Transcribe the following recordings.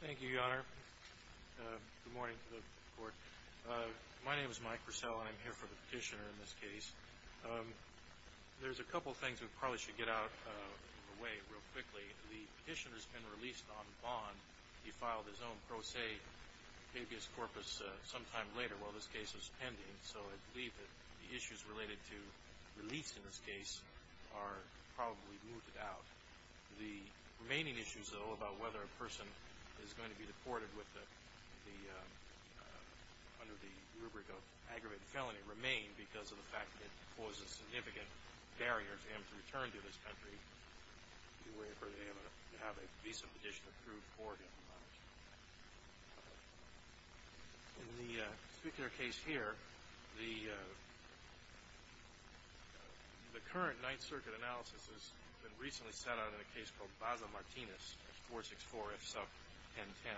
Thank you, Your Honor. Good morning to the court. My name is Mike Purcell, and I'm here for the petitioner in this case. There's a couple of things we probably should get out of the way real quickly. The petitioner's been released on bond. He filed his own pro se habeas corpus sometime later. Well, this case was pending, so I believe that the issues related to is going to be deported under the rubric of aggravated felony remain because of the fact that it causes significant barriers for him to return to this country in order for him to have a visa petition approved for him. In the particular case here, the current Ninth Circuit analysis has been recently set out in a case called Plaza-Martinez 464F sub 1010.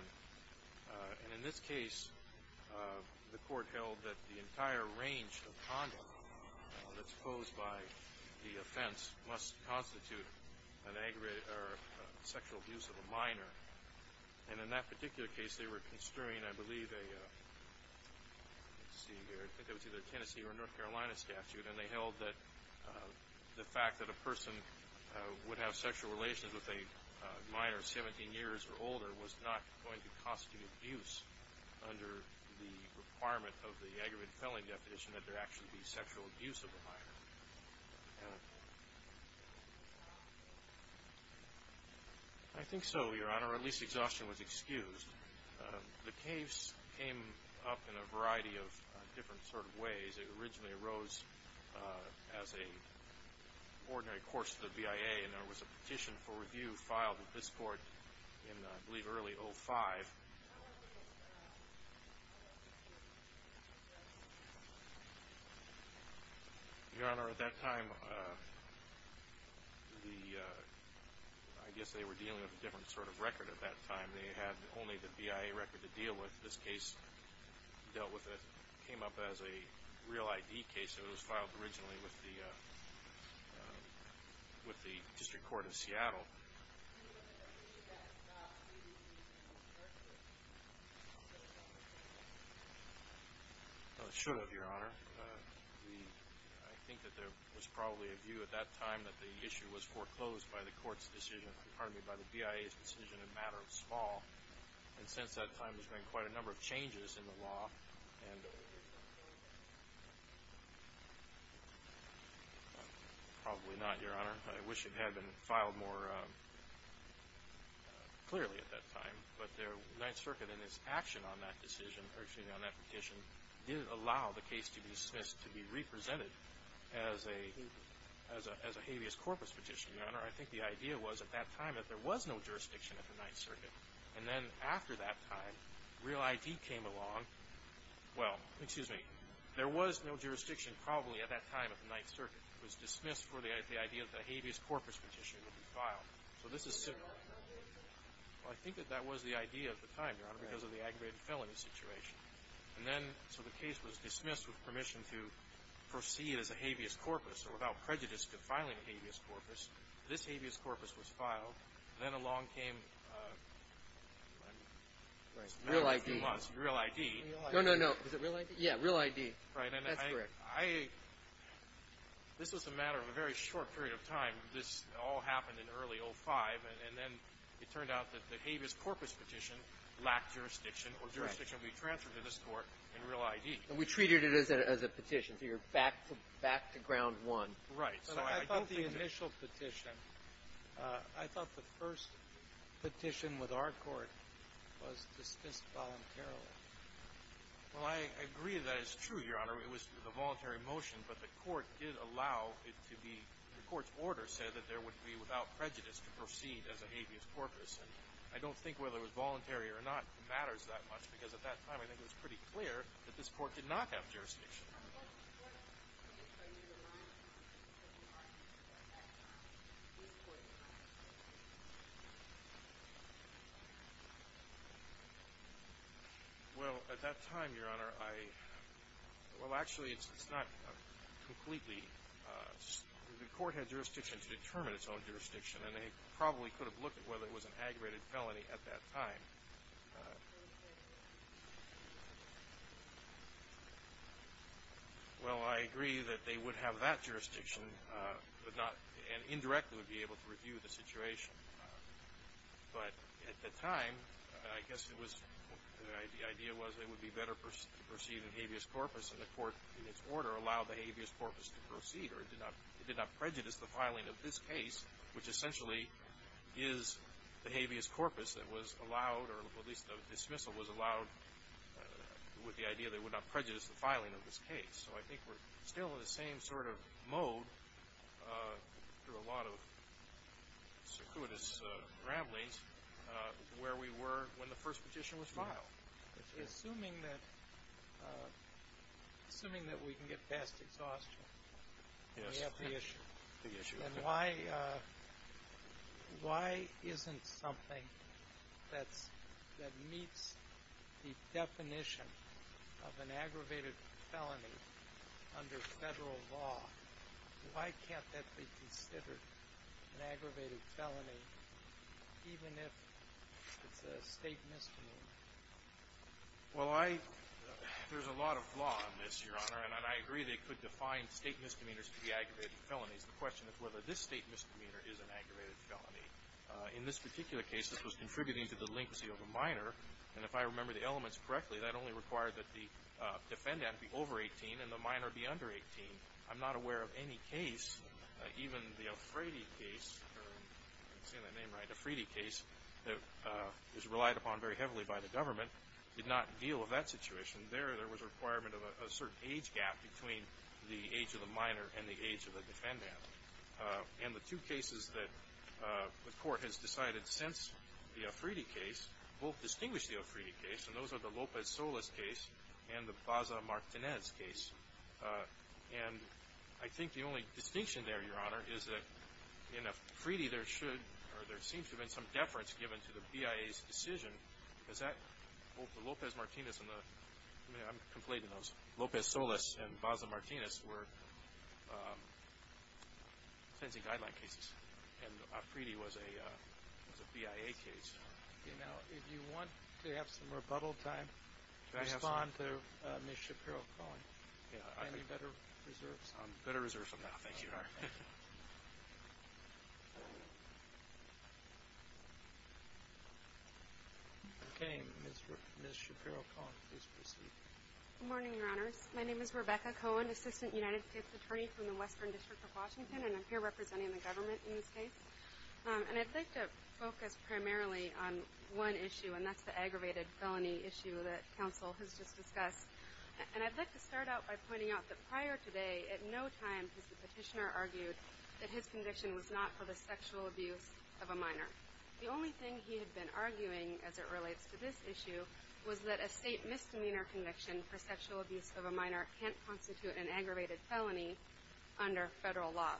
And in this case, the court held that the entire range of conduct that's posed by the offense must constitute a sexual abuse of a minor. And in that particular case, they were construing, I believe, a Tennessee or North Carolina statute, and they held that the fact that a person would have sexual relations with a minor 17 years or older was not going to constitute abuse under the requirement of the aggravated felony definition that there actually be sexual abuse of a minor. I think so, Your Honor. At least exhaustion was excused. The case came up in a variety of different sort of ways. It originally arose as an ordinary course to the BIA, and there was a petition for review filed with this court in, I believe, early 05. Your Honor, at that time, I guess they were dealing with a different sort of record at that time. They had only the BIA record to deal with. This case dealt with it, came up as a real ID case. It was filed originally with the District Court of Seattle. It should have, Your Honor. I think that there was probably a view at that time that the issue was foreclosed by the BIA's decision in a matter of small. And since that time, there's been quite a number of changes in the law and probably not, Your Honor. I wish it had been filed more clearly at that time. But the Ninth Circuit in its action on that decision, or excuse me, on that petition, didn't allow the case to be represented as a habeas corpus petition, Your Honor. I think the idea was at that time that there was no jurisdiction at the Ninth Circuit. And then after that time, real ID came along. Well, excuse me. There was no jurisdiction probably at that time at the Ninth Circuit. It was dismissed for the idea that a habeas corpus petition would be filed. So this is similar. Well, I think that that was the idea at the time, Your Honor, because of the aggravated felony situation. And then, so the case was dismissed with permission to proceed as a habeas corpus or without prejudice to filing a habeas corpus. This habeas corpus was filed. Then along came real ID. No, no, no. Is it real ID? Yeah, real ID. That's correct. This was a matter of a very short period of time. This all happened in early 2005. And then it turned out that the habeas corpus petition lacked jurisdiction or jurisdiction would be transferred to this Court in real ID. And we treated it as a petition, so you're back to ground one. Right. But I thought the initial petition, I thought the first petition with our Court was dismissed voluntarily. Well, I agree that it's true, Your Honor. It was a voluntary motion, but the Court did allow it to be, the Court's order said that there would be without prejudice to proceed as a habeas corpus. And I don't think whether it was voluntary or not matters that much, because at that time I think it was pretty clear that this Court did not have jurisdiction. Well, at that time, Your Honor, I, well, actually it's not completely, the Court had jurisdiction to determine its own jurisdiction, and they probably could have looked at whether it was an aggravated felony at that time. Well, I agree that they would have that jurisdiction, but not, and indirectly would be able to review the situation. But at the time, I guess it was, the idea was it would be better to proceed in habeas corpus, and the Court, in its order, allowed the habeas corpus to proceed, or it did not prejudice the filing of this case, which essentially is the habeas corpus that was allowed, or at least the dismissal was allowed with the idea that it would not prejudice the filing of this case. So I think we're still in the same sort of mode through a lot of circuitous ramblings Assuming that we can get past exhaustion, we have the issue. And why isn't something that meets the definition of an aggravated felony under federal law, why can't that be considered an aggravated felony, even if it's a state misdemeanor? Well, I, there's a lot of law on this, Your Honor, and I agree they could define state misdemeanors to be aggravated felonies. The question is whether this state misdemeanor is an aggravated felony. In this particular case, this was contributing to delinquency of a minor, and if I remember the elements correctly, that only required that the defendant be over 18 and the minor be under 18. I'm not aware of any case, even the Afredi case, if I'm saying that name right, the Afredi case, that was relied upon very heavily by the government, did not deal with that situation. There, there was a requirement of a certain age gap between the age of the minor and the age of the defendant. And the two cases that the court has decided since the Afredi case both distinguish the Afredi case, and those are the Lopez-Solas case and the Plaza-Martinez case. And I think the only distinction there, Your Honor, is that in Afredi there should or there seems to have been some deference given to the BIA's decision. Is that both the Lopez-Martinez and the, I mean, I'm conflating those. Lopez-Solas and Plaza-Martinez were sentencing guideline cases, and Afredi was a BIA case. Now, if you want to have some rebuttal time, respond to Ms. Shapiro-Cohen. Any better reserves? Better reserves from now. Thank you, Your Honor. Okay. Ms. Shapiro-Cohen, please proceed. Good morning, Your Honors. My name is Rebecca Cohen, Assistant United States Attorney from the Western District of Washington, and I'm here representing the government in this case. And I'd like to focus primarily on one issue, and that's the aggravated felony issue that counsel has just discussed. And I'd like to start out by pointing out that prior today at no time has the petitioner argued that his conviction was not for the sexual abuse of a minor. The only thing he had been arguing as it relates to this issue was that a state misdemeanor conviction for sexual abuse of a minor can't constitute an aggravated felony under federal law.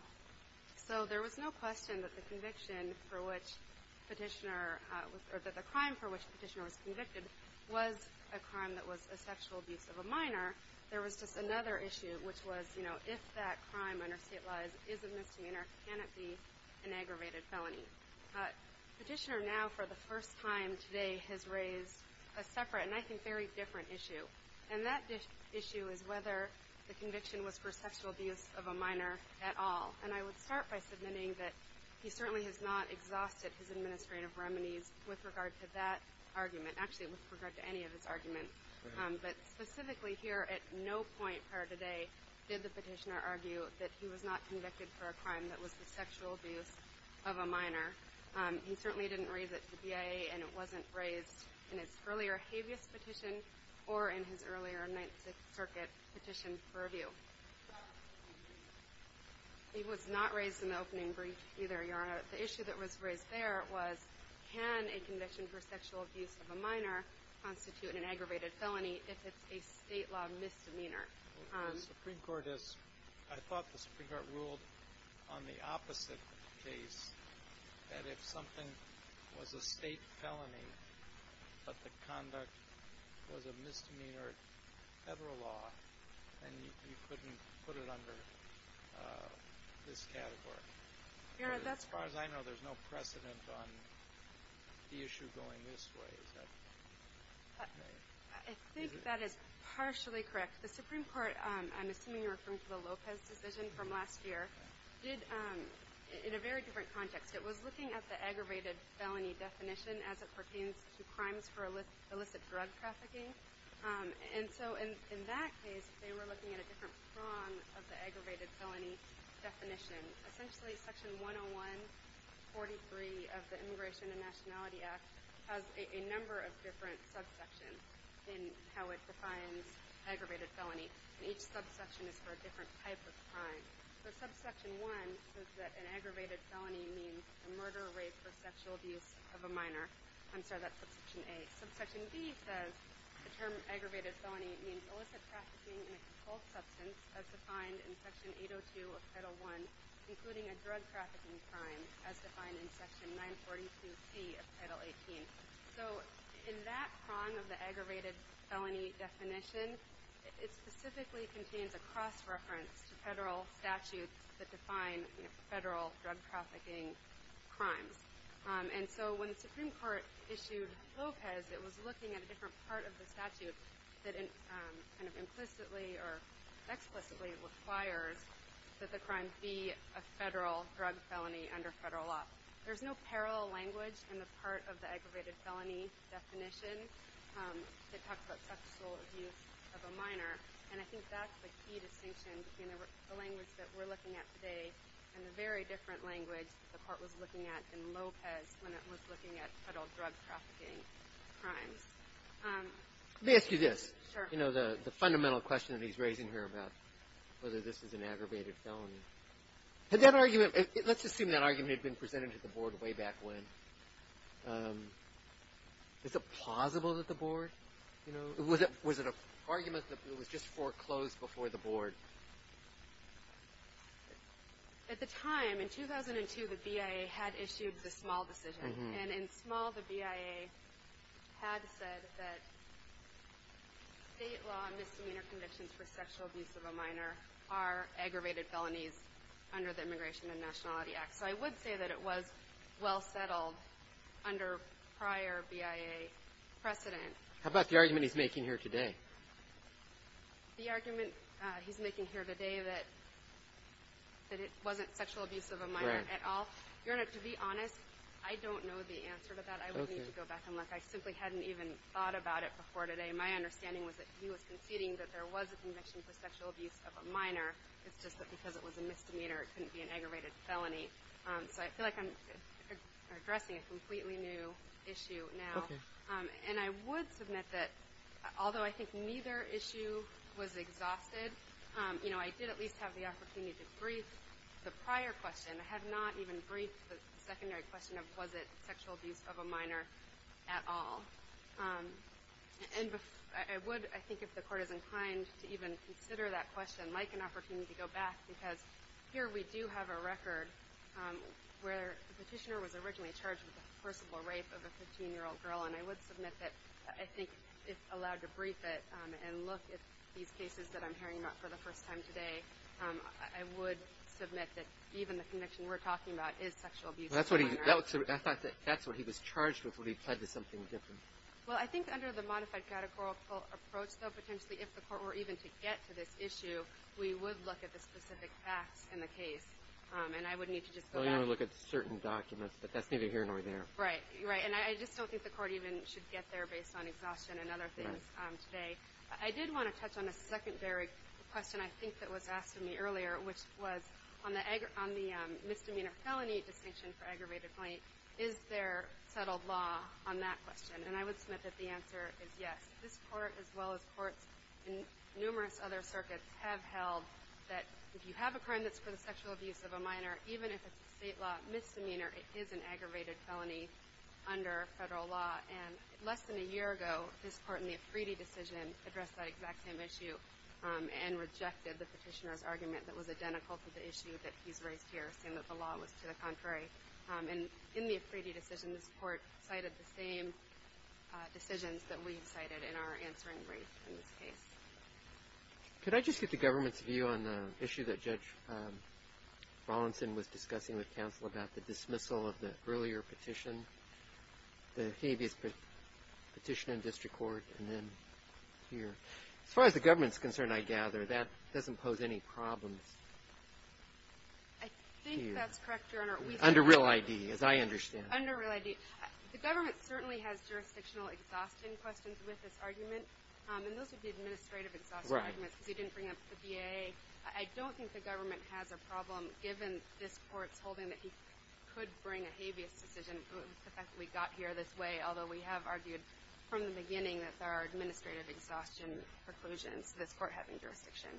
So there was no question that the conviction for which petitioner or that the crime for which petitioner was convicted was a crime that was a sexual abuse of a minor. There was just another issue, which was, you know, if that crime under state laws is a misdemeanor, can it be an aggravated felony? But petitioner now for the first time today has raised a separate and I think very different issue, and that issue is whether the conviction was for sexual abuse of a minor at all. And I would start by submitting that he certainly has not exhausted his administrative remedies with regard to that argument, actually with regard to any of his arguments. But specifically here at no point prior today did the petitioner argue that he was not convicted for a crime that was the sexual abuse of a minor. He certainly didn't raise it to BIA, and it wasn't raised in his earlier habeas petition or in his earlier Ninth Circuit petition for review. He was not raised in the opening brief either, Your Honor. The issue that was raised there was can a conviction for sexual abuse of a minor constitute an aggravated felony if it's a state law misdemeanor? The Supreme Court has – I thought the Supreme Court ruled on the opposite case, that if something was a state felony but the conduct was a misdemeanor federal law, then you couldn't put it under this category. As far as I know, there's no precedent on the issue going this way. Is that right? I think that is partially correct. The Supreme Court, I'm assuming you're referring to the Lopez decision from last year, did in a very different context. It was looking at the aggravated felony definition as it pertains to crimes for illicit drug trafficking. In that case, they were looking at a different prong of the aggravated felony definition. Essentially, Section 101.43 of the Immigration and Nationality Act has a number of different subsections in how it defines aggravated felony. Each subsection is for a different type of crime. Subsection 1 says that an aggravated felony means a murder, rape, or sexual abuse of a minor. I'm sorry, that's Subsection A. Subsection B says the term aggravated felony means illicit trafficking in a controlled substance as defined in Section 802 of Title I, including a drug trafficking crime, as defined in Section 942C of Title XVIII. In that prong of the aggravated felony definition, it specifically contains a cross-reference to federal statutes that define federal drug trafficking crimes. And so when the Supreme Court issued Lopez, it was looking at a different part of the statute that implicitly or explicitly requires that the crime be a federal drug felony under federal law. There's no parallel language in the part of the aggravated felony definition that talks about sexual abuse of a minor, and I think that's the key distinction between the language that we're looking at today and the very different language that the Court was looking at in Lopez when it was looking at federal drug trafficking crimes. Let me ask you this. Sure. You know, the fundamental question that he's raising here about whether this is an aggravated felony. Had that argument, let's assume that argument had been presented to the Board way back when. Is it plausible that the Board, you know, was it an argument that it was just foreclosed before the Board? At the time, in 2002, the BIA had issued the Small decision, and in Small the BIA had said that state law misdemeanor convictions for sexual abuse of a minor are aggravated felonies under the Immigration and Nationality Act. So I would say that it was well settled under prior BIA precedent. How about the argument he's making here today? The argument he's making here today that it wasn't sexual abuse of a minor at all. To be honest, I don't know the answer to that. I would need to go back and look. I simply hadn't even thought about it before today. My understanding was that he was conceding that there was a conviction for sexual abuse of a minor. It's just that because it was a misdemeanor, it couldn't be an aggravated felony. So I feel like I'm addressing a completely new issue now. Okay. And I would submit that although I think neither issue was exhausted, I did at least have the opportunity to brief the prior question. I have not even briefed the secondary question of was it sexual abuse of a minor at all. And I would, I think, if the Court is inclined to even consider that question, like an opportunity to go back because here we do have a record where the petitioner was originally charged with the forcible rape of a 15-year-old girl. And I would submit that I think if allowed to brief it and look at these cases that I'm hearing about for the first time today, I would submit that even the conviction we're talking about is sexual abuse of a minor. I thought that's what he was charged with when he pled to something different. Well, I think under the modified categorical approach, though, potentially if the Court were even to get to this issue, we would look at the specific facts in the case. And I would need to just go back. Well, you would look at certain documents, but that's neither here nor there. Right. Right. And I just don't think the Court even should get there based on exhaustion and other things today. I did want to touch on a secondary question I think that was asked of me earlier, which was on the misdemeanor felony distinction for aggravated plaint, is there settled law on that question? And I would submit that the answer is yes. This Court, as well as courts in numerous other circuits, have held that if you have a crime that's for the sexual abuse of a minor, even if it's a State law misdemeanor, it is an aggravated felony under Federal law. And less than a year ago, this Court in the Efride decision addressed that exact same issue and rejected the Petitioner's argument that was identical to the issue that he's raised here, saying that the law was to the contrary. And in the Efride decision, this Court cited the same decisions that we've cited in our answering brief in this case. Could I just get the government's view on the issue that Judge Wallinson was discussing with counsel about the dismissal of the earlier petition, the habeas petition in district court, and then here? As far as the government's concerned, I gather, that doesn't pose any problems. I think that's correct, Your Honor. Under real ID, as I understand it. Under real ID. The government certainly has jurisdictional exhaustion questions with this argument, and those would be administrative exhaustion. Right. Because he didn't bring up the VA. I don't think the government has a problem, given this Court's holding that he could bring a habeas decision, the fact that we got here this way, although we have argued from the beginning that there are administrative exhaustion preclusions, this Court having jurisdiction.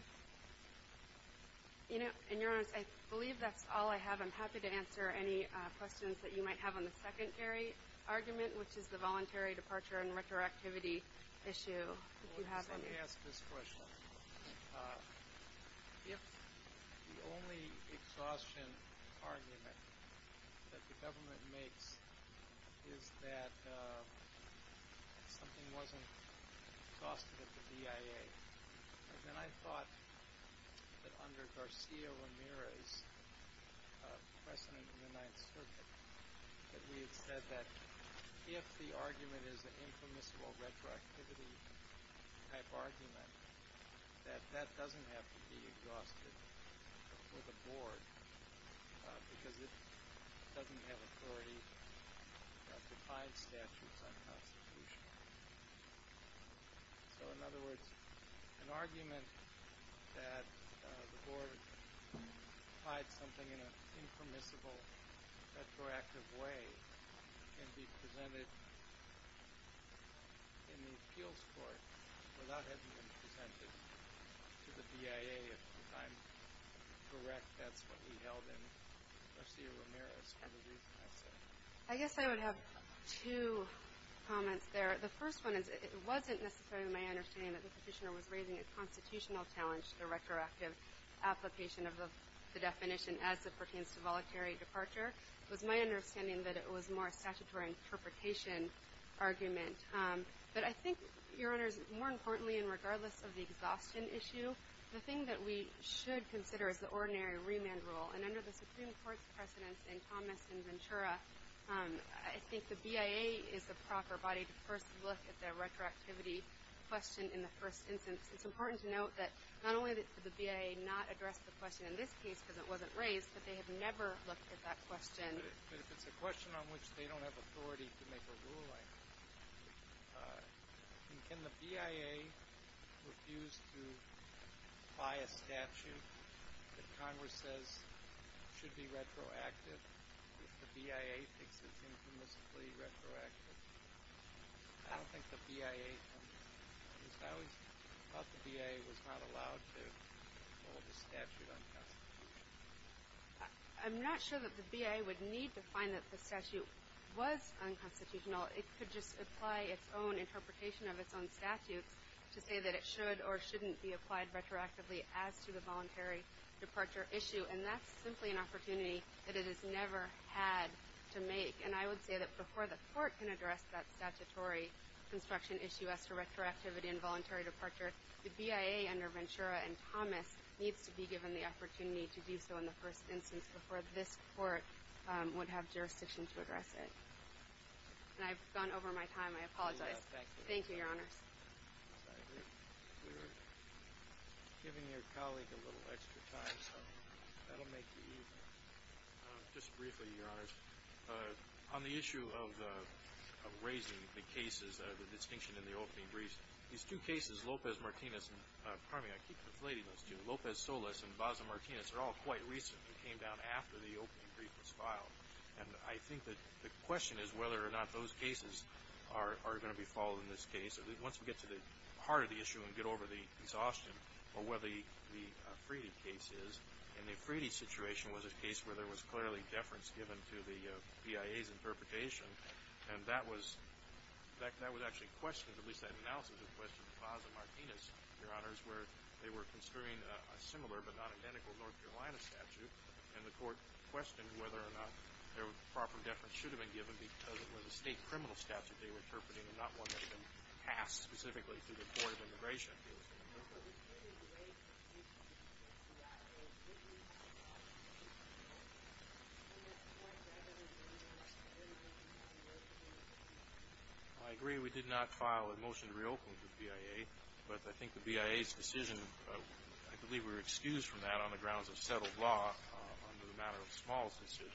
And, Your Honor, I believe that's all I have. I'm happy to answer any questions that you might have on the secondary argument, which is the voluntary departure and retroactivity issue, if you have any. Let me ask this question. If the only exhaustion argument that the government makes is that something wasn't exhausted at the VIA, then I thought that under Garcia Ramirez, President of the Ninth Circuit, that we had said that if the argument is an impermissible retroactivity type argument, that that doesn't have to be exhausted for the Board, because it doesn't have authority to find statutes unconstitutional. So, in other words, an argument that the Board applied something in an impermissible retroactive way can be presented in the Appeals Court without having been presented to the VIA. If I'm correct, that's what we held in Garcia Ramirez for the reason I said. I guess I would have two comments there. The first one is it wasn't necessarily my understanding that the Petitioner was raising a constitutional challenge to the retroactive application of the definition as it pertains to voluntary departure. It was my understanding that it was more a statutory interpretation argument. But I think, Your Honors, more importantly, and regardless of the exhaustion issue, the thing that we should consider is the ordinary remand rule. And under the Supreme Court's precedence in Thomas and Ventura, I think the VIA is the proper body to first look at the retroactivity question in the first instance. It's important to note that not only did the VIA not address the question in this case because it wasn't raised, but they have never looked at that question. But if it's a question on which they don't have authority to make a ruling, can the VIA refuse to buy a statute that Congress says should be retroactive if the VIA thinks it's infamously retroactive? I don't think the VIA does. I always thought the VIA was not allowed to hold a statute unconstitutional. I'm not sure that the VIA would need to find that the statute was unconstitutional. It could just apply its own interpretation of its own statutes to say that it should or shouldn't be applied retroactively as to the voluntary departure issue. And that's simply an opportunity that it has never had to make. And I would say that before the Court can address that statutory construction issue as to retroactivity and voluntary departure, the VIA under Ventura and Thomas needs to be given the opportunity to do so in the first instance before this Court would have jurisdiction to address it. And I've gone over my time. I apologize. Thank you, Your Honors. We're giving your colleague a little extra time, so that will make it easier. Just briefly, Your Honors, on the issue of raising the cases, the distinction in the opening briefs, these two cases, Lopez-Martinez and – pardon me, I keep reflating those two – Lopez-Solis and Baza-Martinez are all quite recent. They came down after the opening brief was filed. And I think that the question is whether or not those cases are going to be followed in this case. Once we get to the heart of the issue and get over the exhaustion or whether the Freedy case is, and the Freedy situation was a case where there was clearly deference given to the VIA's interpretation, and that was actually questioned, at least that analysis was questioned, Baza-Martinez, Your Honors, where they were construing a similar but not identical North Carolina statute, and the court questioned whether or not there was proper deference should have been given because it was a state criminal statute they were interpreting and not one that had been passed specifically through the Board of Immigration Appeals. I agree we did not file a motion to reopen the VIA, but I think the VIA's decision – I believe we were excused from that on the grounds of settled law under the matter of Small's decision.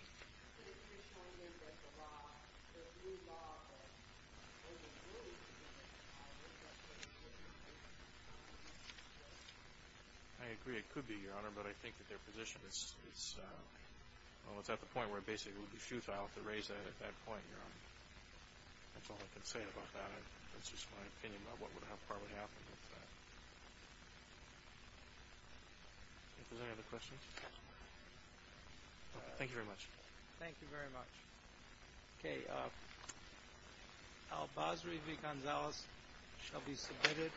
I agree it could be, Your Honor, but I think that their position is – well, it's at the point where it basically would be futile to raise that at that point, Your Honor. That's all I can say about that. That's just my opinion about what would have probably happened with that. If there's any other questions. Thank you very much. Thank you very much. Okay. Al-Basri v. Gonzalez shall be submitted.